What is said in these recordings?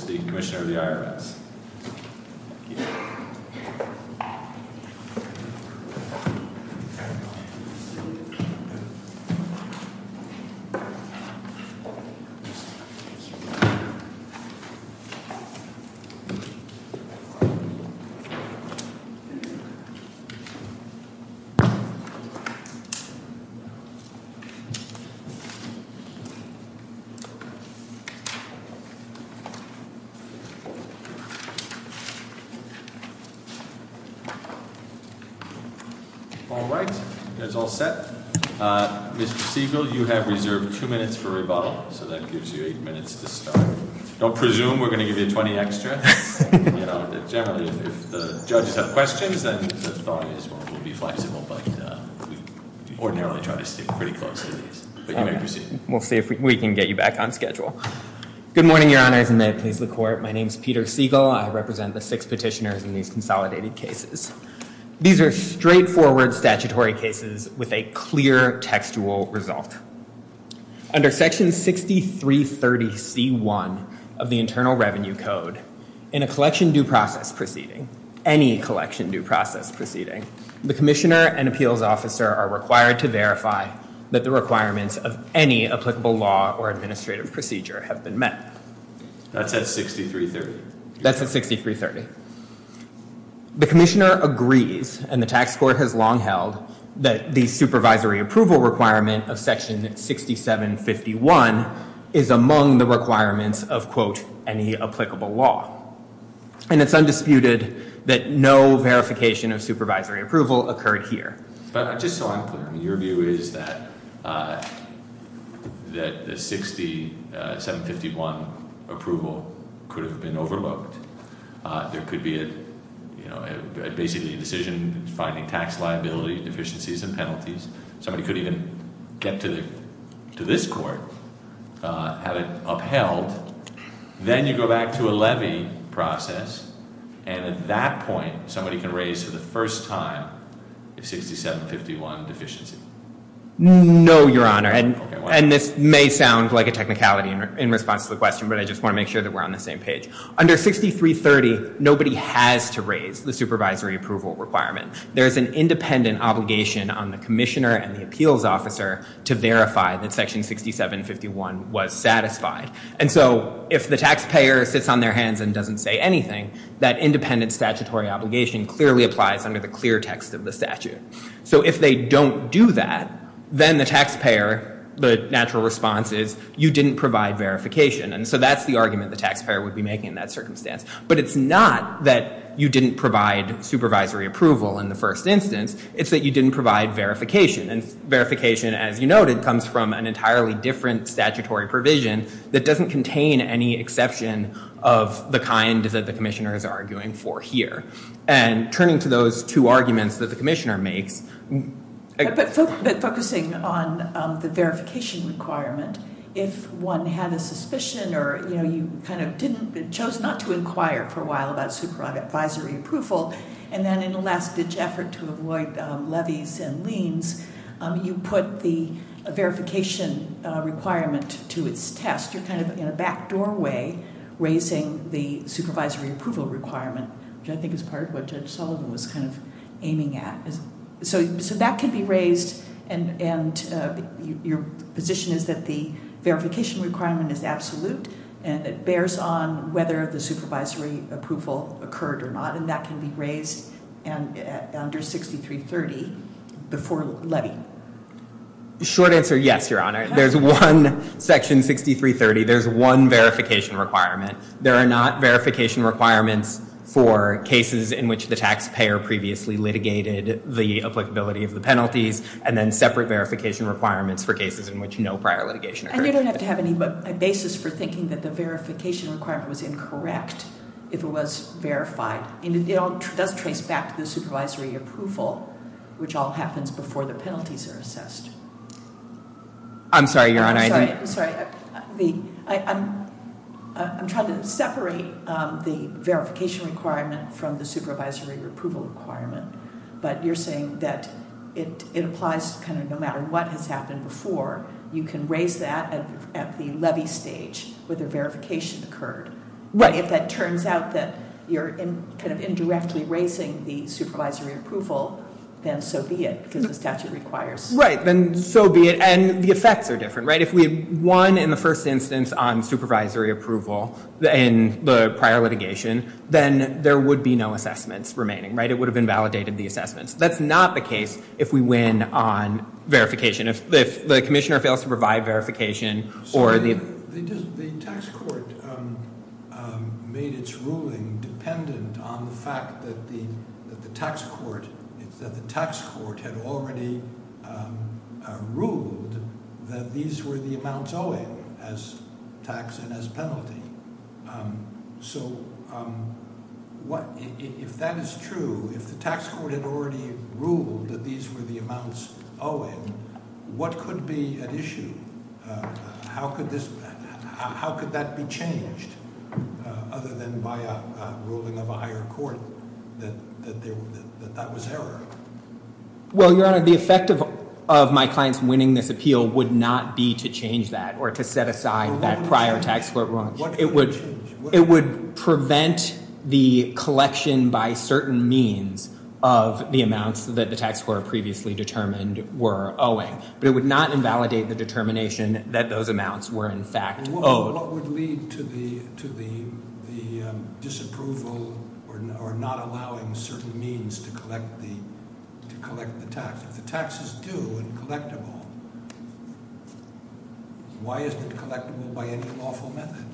v. Commissioner of the IRS All right, that's all set. Mr. Siegel, you have reserved two minutes for rebuttal, so that gives you eight minutes to start. Don't presume we're going to give you 20 extra. Generally, if the judges have questions, then the thought is we'll be flexible, but we ordinarily try to stick pretty close to these. But you may proceed. Good morning, Your Honors, and may it please the Court. My name is Peter Siegel. I represent the six petitioners in these consolidated cases. These are straightforward statutory cases with a clear textual result. Under Section 6330C1 of the Internal Revenue Code, in a collection due process proceeding, any collection due process proceeding, the commissioner and appeals officer are required to verify that the requirements of any applicable law or administrative procedure have been met. That's at 6330? That's at 6330. The commissioner agrees, and the tax court has long held, that the supervisory approval requirement of Section 6751 is among the requirements of, quote, any applicable law. And it's undisputed that no verification of supervisory approval occurred here. But just so I'm clear, your view is that the 6751 approval could have been overlooked. There could be basically a decision finding tax liability deficiencies and penalties. Somebody could even get to this court, have it upheld. Then you go back to a levy process, and at that point, somebody can raise for the first time a 6751 deficiency. No, Your Honor. And this may sound like a technicality in response to the question, but I just want to make sure that we're on the same page. Under 6330, nobody has to raise the supervisory approval requirement. There is an independent obligation on the commissioner and the appeals officer to verify that Section 6751 was broken. That independent statutory obligation clearly applies under the clear text of the statute. So if they don't do that, then the taxpayer, the natural response is, you didn't provide verification. And so that's the argument the taxpayer would be making in that circumstance. But it's not that you didn't provide supervisory approval in the first instance. It's that you didn't provide verification. And verification, as you noted, comes from an entirely different statutory provision that doesn't contain any exception of the kind that the commissioner is arguing for here. And turning to those two arguments that the commissioner makes... But focusing on the verification requirement, if one had a suspicion or you chose not to inquire for a while about supervisory approval, and then in a last-ditch effort to avoid levies and liens, you put the verification requirement to its test. You're kind of in a back doorway raising the supervisory approval requirement, which I think is part of what Judge Sullivan was kind of aiming at. So that can be raised, and your position is that the verification requirement is absolute, and it bears on whether the supervisory approval occurred or not. And that can be raised under 6330 before levy. Short answer, yes, Your Honor. There's one section, 6330, there's one verification requirement. There are not verification requirements for cases in which the taxpayer previously litigated the applicability of the penalties, and then separate verification requirements for cases in which no prior litigation occurred. You don't have to have any basis for thinking that the verification requirement was incorrect if it was verified. It does trace back to the supervisory approval, which all happens before the penalties are assessed. I'm sorry, Your Honor. I'm sorry. I'm trying to separate the verification requirement from the supervisory approval requirement, but you're saying that it applies kind of no matter what has happened before. You can raise that at the levy stage where the verification occurred. Right. If that turns out that you're kind of indirectly raising the supervisory approval, then so be it, because the statute requires. Right, then so be it. And the effects are different, right? If we won in the first instance on supervisory approval in the prior litigation, then there would be no assessments remaining, right? It would have invalidated the assessments. That's not the case if we win on verification. If the commissioner fails to provide verification or the- The tax court made its ruling dependent on the fact that the tax court had already ruled that these were the amounts owing as tax and as penalty. So if that is true, if the tax court had already ruled that these were the amounts owing, what could be at issue? How could that be changed other than by a ruling of a higher court that that was error? Well, Your Honor, the effect of my clients winning this appeal would not be to change that or to set aside that prior tax court ruling. It would prevent the collection by certain means of the amounts that the tax court previously determined were owing. But it would not invalidate the determination that those amounts were in fact owed. What would lead to the disapproval or not allowing certain means to collect the tax? If the tax is due and collectible, why isn't it collectible by any lawful method?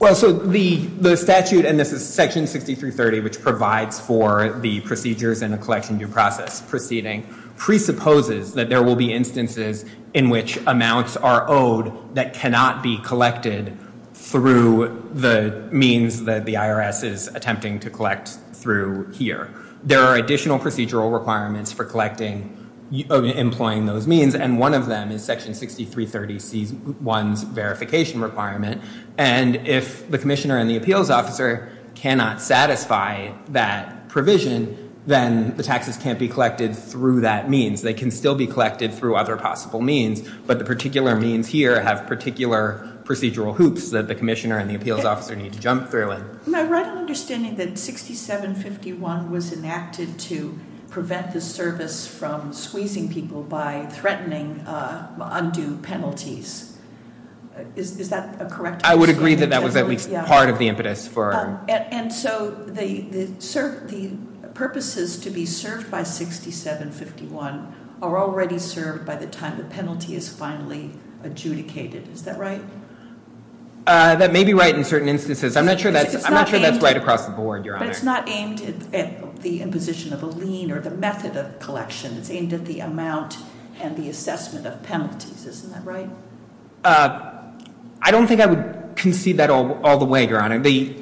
Well, so the statute, and this is Section 6330, which provides for the procedures and the collection due process proceeding, presupposes that there will be instances in which amounts are owed that cannot be collected through the means that the IRS is attempting to collect through here. There are additional procedural requirements for collecting, employing those means, and one of them is Section 6330C1's verification requirement. And if the commissioner and the appeals officer cannot satisfy that provision, then the taxes can't be collected through that means. They can still be collected through other possible means, but the particular means here have particular procedural hoops that the commissioner and the appeals officer need to jump through in. Am I right in understanding that 6751 was enacted to prevent the service from squeezing people by threatening undue penalties? Is that correct? I would agree that that was certainly part of the impetus. And so the purposes to be served by 6751 are already served by the time the penalty is finally adjudicated. Is that right? That may be right in certain instances. I'm not sure that's right across the board, Your Honor. But it's not aimed at the imposition of a lien or the method of collection. It's aimed at the amount and the assessment of all the way, Your Honor. The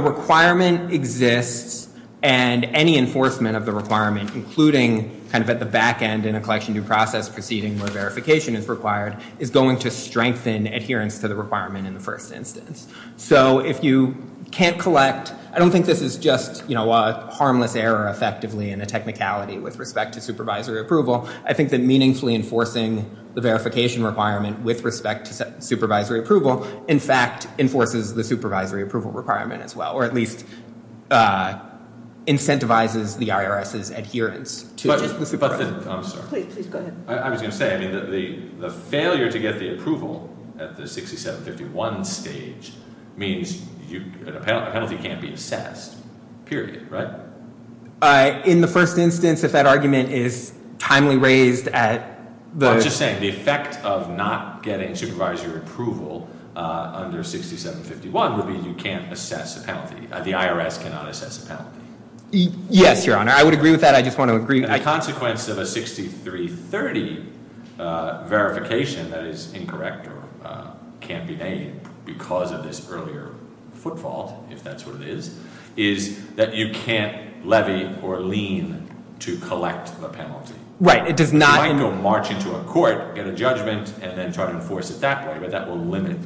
requirement exists, and any enforcement of the requirement, including at the back end in a collection due process proceeding where verification is required, is going to strengthen adherence to the requirement in the first instance. So if you can't collect, I don't think this is just a harmless error effectively and a technicality with respect to supervisory approval. I think that meaningfully enforcing the verification requirement with respect to supervisory approval, in fact, enforces the supervisory approval requirement as well, or at least incentivizes the IRS's adherence to the supervisory approval. I was going to say, I mean, the failure to get the approval at the 6751 stage means a penalty can't be assessed, period, right? In the first instance, if that argument is timely raised at the- I'm just saying, the effect of not getting supervisory approval under 6751 would be you can't assess a penalty. The IRS cannot assess a penalty. Yes, Your Honor. I would agree with that. I just want to agree- The consequence of a 6330 verification that is incorrect or can't be made because of this earlier footfall, if that's what it is, is that you can't levy or lean to collect the penalty. Right. It does not- You might go march into a court, get a judgment, and then try to enforce it that way, but that will limit-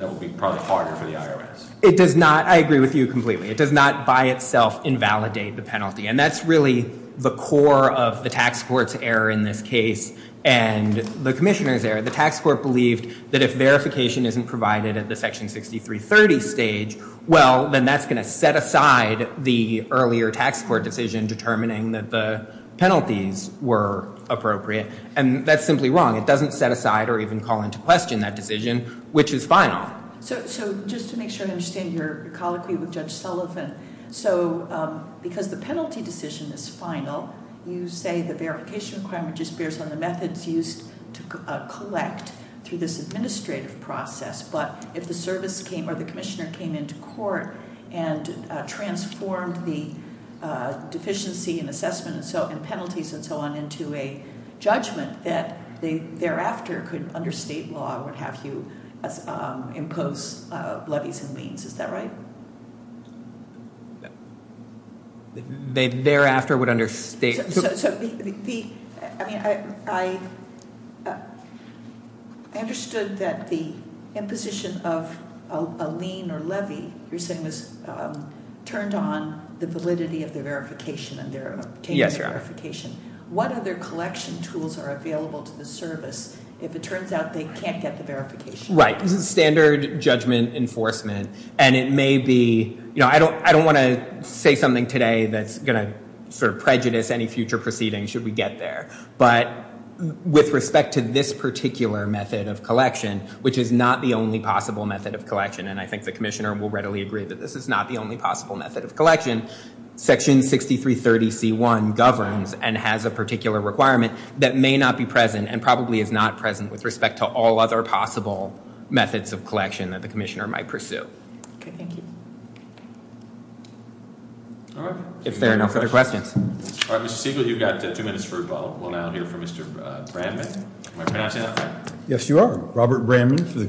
that will be probably harder for the IRS. It does not- I agree with you completely. It does not by itself invalidate the penalty, and that's really the core of the tax court's error in this case and the commissioner's error. The tax court believed that if verification isn't provided at the section 6330 stage, well, then that's going to set aside the earlier tax court decision determining that the penalties were appropriate. And that's simply wrong. It doesn't set aside or even call into question that decision, which is final. So just to make sure I understand your colloquy with Judge Sullivan, so because the penalty decision is final, you say the verification requirement just bears on the methods used to collect through this administrative process, but if the service came or the commissioner came into court and transformed the deficiency in assessment and penalties and so on into a judgment that they thereafter could under state law would have you impose levies and liens. Is that right? They thereafter would understate- I mean, I understood that the imposition of a lien or levy you're saying was turned on the validity of the verification and their- Yes, Your Honor. What other collection tools are available to the service if it turns out they can't get the verification? Right. This is standard judgment enforcement, and it may be- I don't want to say something today that's going to sort of prejudice any future proceedings should we get there. But with respect to this particular method of collection, which is not the only possible method of collection, and I think the commissioner will readily agree that this is not the only possible method of collection, Section 6330C1 governs and has a particular requirement that may not be present and probably is not present with respect to all other possible methods of collection that the commissioner might pursue. Okay, thank you. All right. If there are no further questions. All right, Mr. Siegel, you've got two minutes for a follow-up. We'll now hear from Mr. Bramman. Am I pronouncing that right? Yes, you are. Robert Bramman for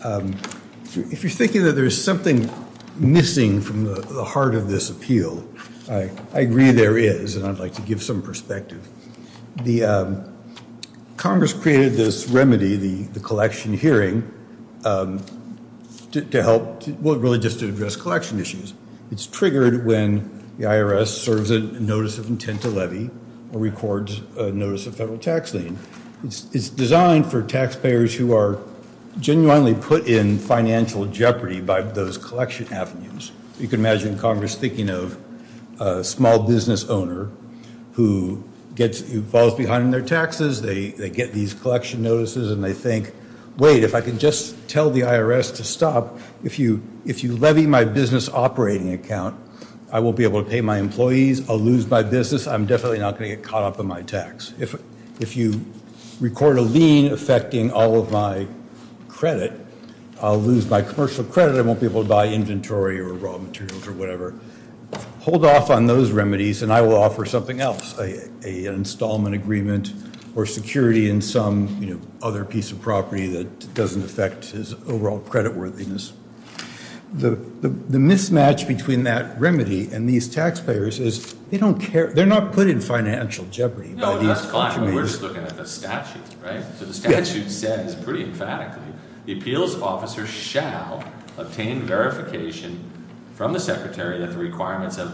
Congress. There is something missing from the heart of this appeal. I agree there is, and I'd like to give some perspective. Congress created this remedy, the collection hearing, to help- well, really just to address collection issues. It's triggered when the IRS serves a notice of intent to levy or records a notice of federal tax lien. It's designed for taxpayers who are genuinely put in financial jeopardy by those collection avenues. You can imagine Congress thinking of a small business owner who falls behind on their taxes. They get these collection notices and they think, wait, if I can just tell the IRS to stop, if you levy my business operating account, I won't be able to pay my record a lien affecting all of my credit. I'll lose my commercial credit. I won't be able to buy inventory or raw materials or whatever. Hold off on those remedies and I will offer something else, an installment agreement or security in some other piece of property that doesn't affect his overall creditworthiness. The mismatch between that remedy and these taxpayers is they're not put in financial jeopardy. The statute says pretty emphatically the appeals officer shall obtain verification from the secretary that the requirements of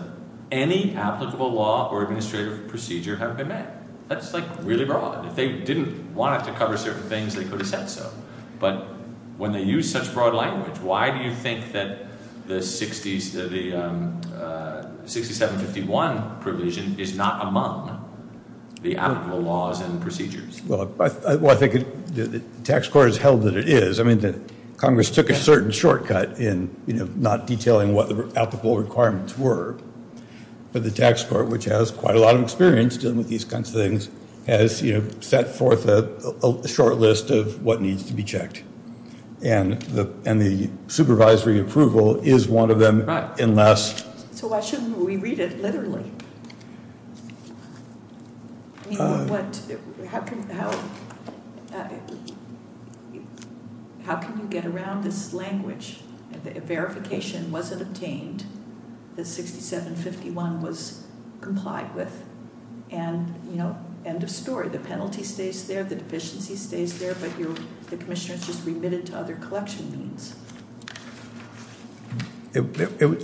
any applicable law or administrative procedure have been met. That's really broad. If they didn't want it to cover certain things, they could have said so. But when they use such broad language, why do you think that the 6751 provision is not among the applicable laws and procedures? I think the tax court has held that it is. Congress took a certain shortcut in not detailing what the applicable requirements were, but the tax court, which has quite a lot of experience dealing with these kinds of things, has set forth a short list of what needs to be checked. And the supervisory approval is one of them. So why shouldn't we read it literally? How can you get around this language? Verification wasn't obtained. The 6751 was approved.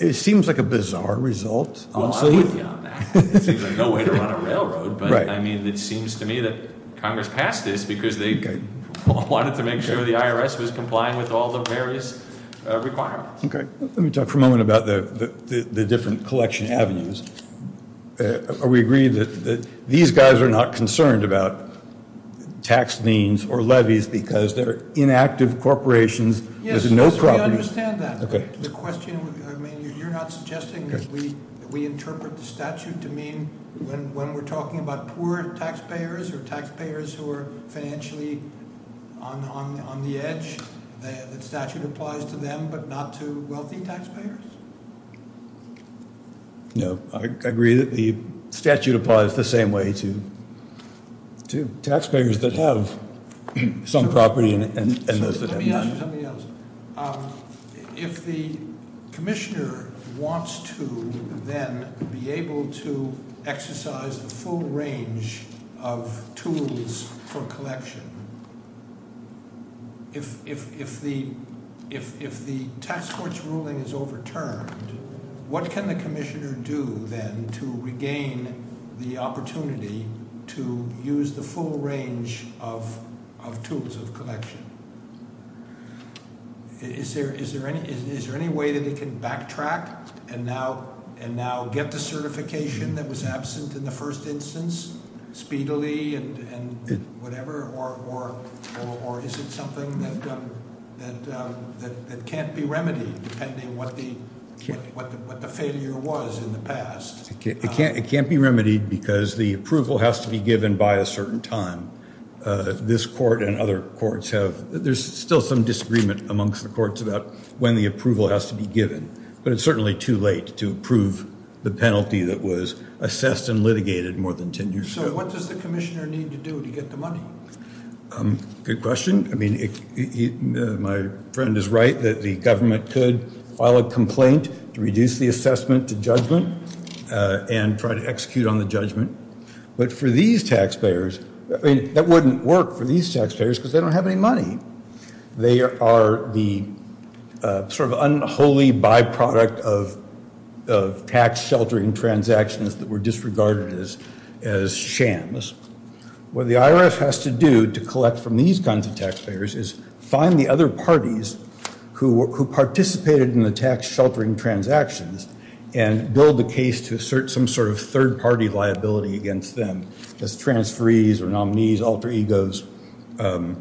It seems like a bizarre result. I'm with you on that. It seems like no way to run a railroad. But it seems to me that Congress passed this because they wanted to make sure the IRS was complying with all the various requirements. Let me talk for a moment about the different collection avenues. Are we agreed that these guys are not concerned about tax liens or levies because they're inactive corporations? Yes, we understand that. You're not suggesting that we interpret the statute to mean when we're talking about poor taxpayers or taxpayers who are financially on the edge, the statute applies to them but not to wealthy taxpayers? I agree that the statute applies the same way to taxpayers that have some property and those that have none. If the commissioner wants to then be able to exercise the full range of tools for collection, if the tax court's ruling is overturned, what can the commissioner do then to regain the opportunity to use the full range of tools of collection? Is there any way that he can backtrack and now get the certification that was absent in the first instance speedily and whatever, or is it something that can't be remedied depending on what the failure was in the past? It can't be remedied because the approval has to be given by a certain time. This court and other courts have, there's still some disagreement amongst the courts about when the approval has to be given, but it's certainly too late to approve the penalty that was assessed and litigated more than 10 years ago. So what does the commissioner need to do to get the money? Good question. My friend is right that the government could file a complaint to reduce the assessment to judgment and try to execute on the judgment. But for these taxpayers, that wouldn't work for these taxpayers because they don't have any money. They are the sort of unholy byproduct of tax sheltering transactions that were disregarded as shams. What the IRF has to do to collect from these kinds of taxpayers is find the other parties who participated in the tax sheltering transactions and build the case to assert some sort of third party liability against them as transferees or nominees, alter egos. Aren't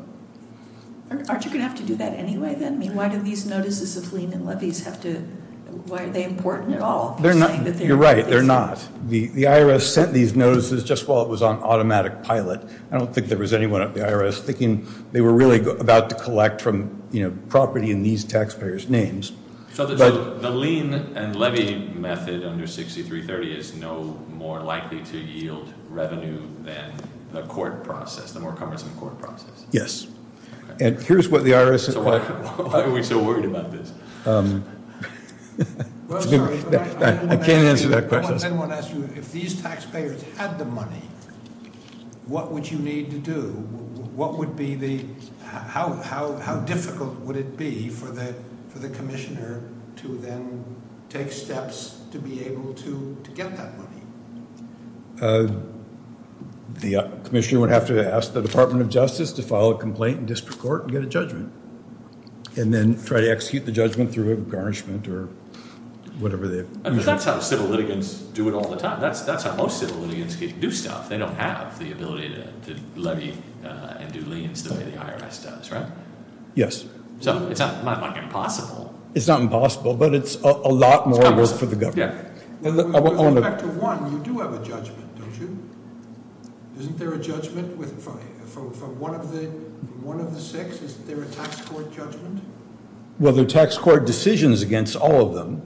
you going to have to do that anyway then? Why do these notices of lien and levies have to, why are they important at all? You're right, they're not. The IRS sent these notices just while it was on automatic pilot. I don't think there was anyone at the IRS thinking they were really about to collect from property in these taxpayers' names. So the lien and levies are more important for revenue than the court process, the more cumbersome court process. Yes. And here's what the IRS... Why are we so worried about this? I'm sorry, I want to ask you, if these taxpayers had the money, what would you need to do? What would be the, how difficult would it be for the commissioner to then take steps to be able to get that money? The commissioner would have to ask the Department of Justice to file a complaint in district court and get a judgment. And then try to execute the judgment through a garnishment or whatever the... But that's how civil litigants do it all the time. That's how most civil litigants do stuff. They don't have the ability to levy and do liens the way the IRS does, right? Yes. So it's not impossible. It's not impossible, but it's a lot more work for the government. With respect to one, you do have a judgment, don't you? Isn't there a judgment from one of the six? Isn't there a tax court judgment? Well, there are tax court decisions against all of them,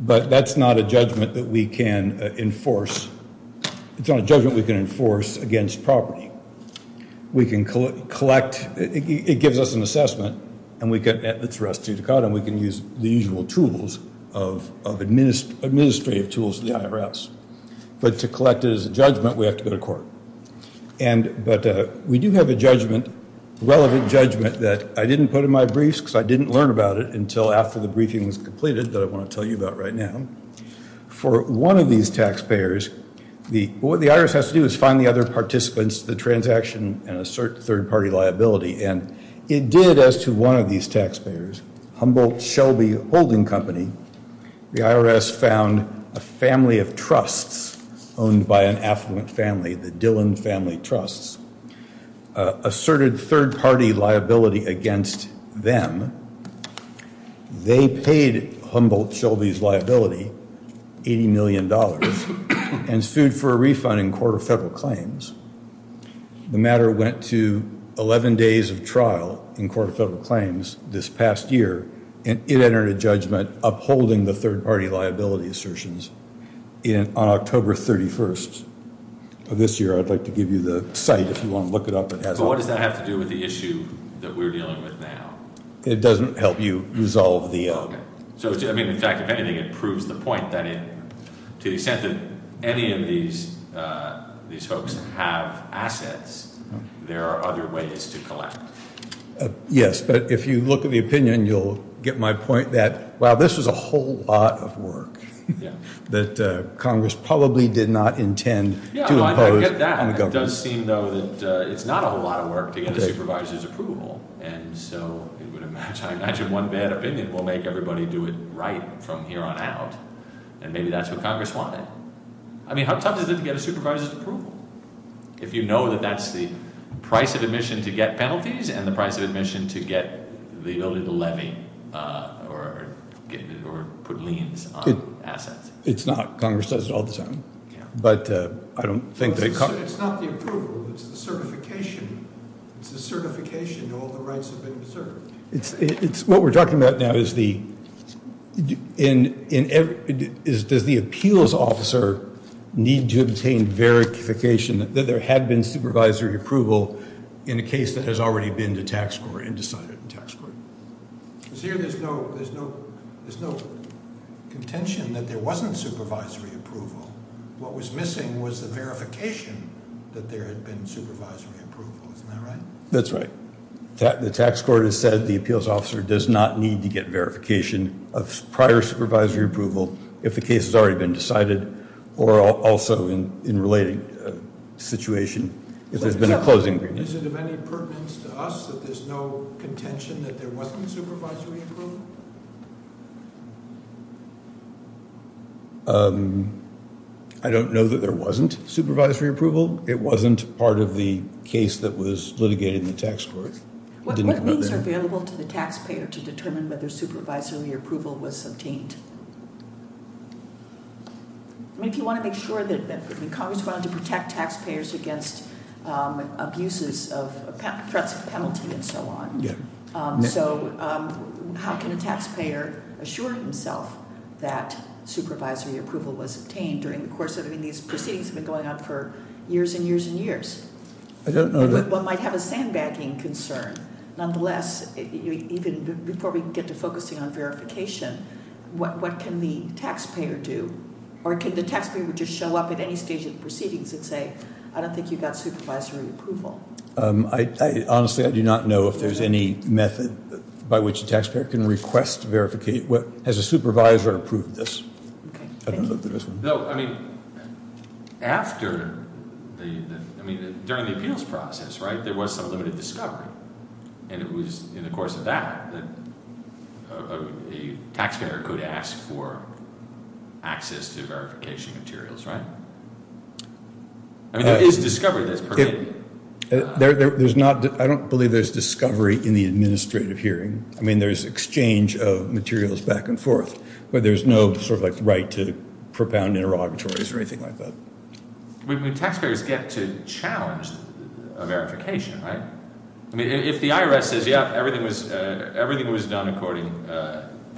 but that's not a judgment that we can enforce. It's not a judgment we can enforce. It's an assessment, and we can use the usual tools of administrative tools of the IRS. But to collect it as a judgment, we have to go to court. But we do have a relevant judgment that I didn't put in my briefs because I didn't learn about it until after the briefing was completed that I want to tell you about right now. For one of these taxpayers, what the IRS has to do is find the other participants, the transaction, and assert third-party liability. And it did as to one of these taxpayers, Humboldt-Shelby Holding Company. The IRS found a family of trusts owned by an affluent family, the Dillon Family Trusts, asserted third-party liability against them. They paid Humboldt-Shelby's liability, $80 million, and stood for a refund in court of federal claims. The matter went to 11 days of trial in court of federal claims this past year, and it entered a judgment upholding the third-party liability assertions on October 31st of this year. I'd like to give you the site if you want to look it up. But what does that have to do with the issue that we're dealing with now? It doesn't help you resolve the... So, I mean, in fact, if anything, it proves the point that to the extent that any of these folks have assets, there are other ways to collect. Yes, but if you look at the opinion, you'll get my point that, wow, this was a whole lot of work that Congress probably did not intend to impose on the government. It does seem, though, that it's not a whole lot of work to get a supervisor's approval, and so I imagine one bad opinion will make everybody do it right from here on out, and maybe that's what Congress wanted. I mean, how tough is it to get a supervisor's approval if you know that that's the price of admission to get penalties and the price of admission to get the ability to levy or put liens on assets? It's not. Congress does it all the time, but I don't think... It's not the approval. It's the certification. It's the certification. All the rights have been preserved. What we're talking about now is the... Does the appeals officer need to obtain verification that there had been supervisory approval in a case that has already been to tax court and decided in tax court? Because here there's no contention that there wasn't supervisory approval. What was missing was the verification that there had been supervisory approval. Isn't that right? That's right. The tax court has said the appeals officer does not need to get verification of prior supervisory approval if the case has already been decided or also in a related situation if there's been a closing agreement. Is it of any pertinence to us that there's no contention that there wasn't supervisory approval? I don't know that there wasn't supervisory approval. It wasn't part of the case that was litigated in the tax court. What means are available to the taxpayer to determine whether supervisory approval was obtained? If you want to make sure that... Congress wanted to protect taxpayers against abuses of threats of penalty and so on. So how can a taxpayer assure himself that supervisory approval was obtained during the course of... These proceedings have been going on for years and years and years. One might have a sandbagging concern. Nonetheless, even before we get to focusing on verification, what can the taxpayer do? Or can the taxpayer just show up at any stage of the proceedings and say, I don't think you got supervisory approval? Honestly, I do not know if there's any method by which a taxpayer can request verification. Has a supervisor approved this? I don't know if there is one. During the appeals process, there was some limited discovery. And it was in the course of that that a taxpayer could ask for access to verification materials. I mean, there is discovery that's permitted. I don't believe there's discovery in the administrative hearing. I mean, there's exchange of materials back and forth. But there's no right to propound interrogatories or anything like that. I mean, if the IRS says, yeah, everything was done according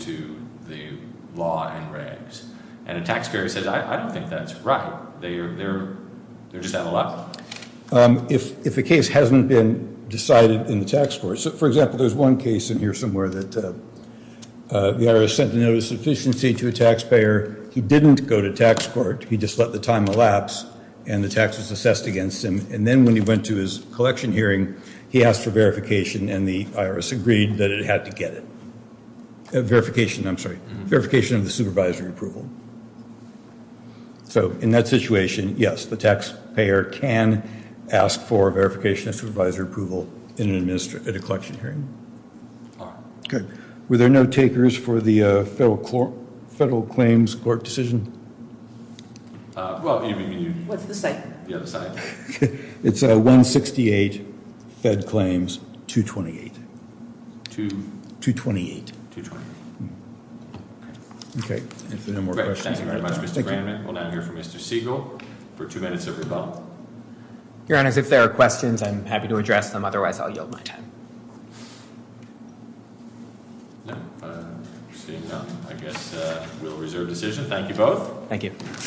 to the law and regs, and a taxpayer says, I don't think that's right, they're just out of luck. If a case hasn't been decided in the tax court, for example, there's one case in here somewhere that the IRS sent a notice of sufficiency to a taxpayer. He didn't go to tax court. He just let the time elapse and the tax was assessed against him. And then when he went to his collection hearing, he asked for verification and the IRS agreed that it had to get it. Verification, I'm sorry, verification of the supervisory approval. So in that situation, yes, the taxpayer can ask for verification of supervisory approval at a collection hearing. Were there no takers for the federal claims court decision? It's 168, fed claims 228. 228. Thank you very much, Mr. Brandman. We'll now hear from Mr. Siegel for two minutes of rebuttal. Your Honor, if there are questions, I'm happy to address them. Otherwise, I'll yield my time. I guess we'll reserve decision. Thank you both. Thank you.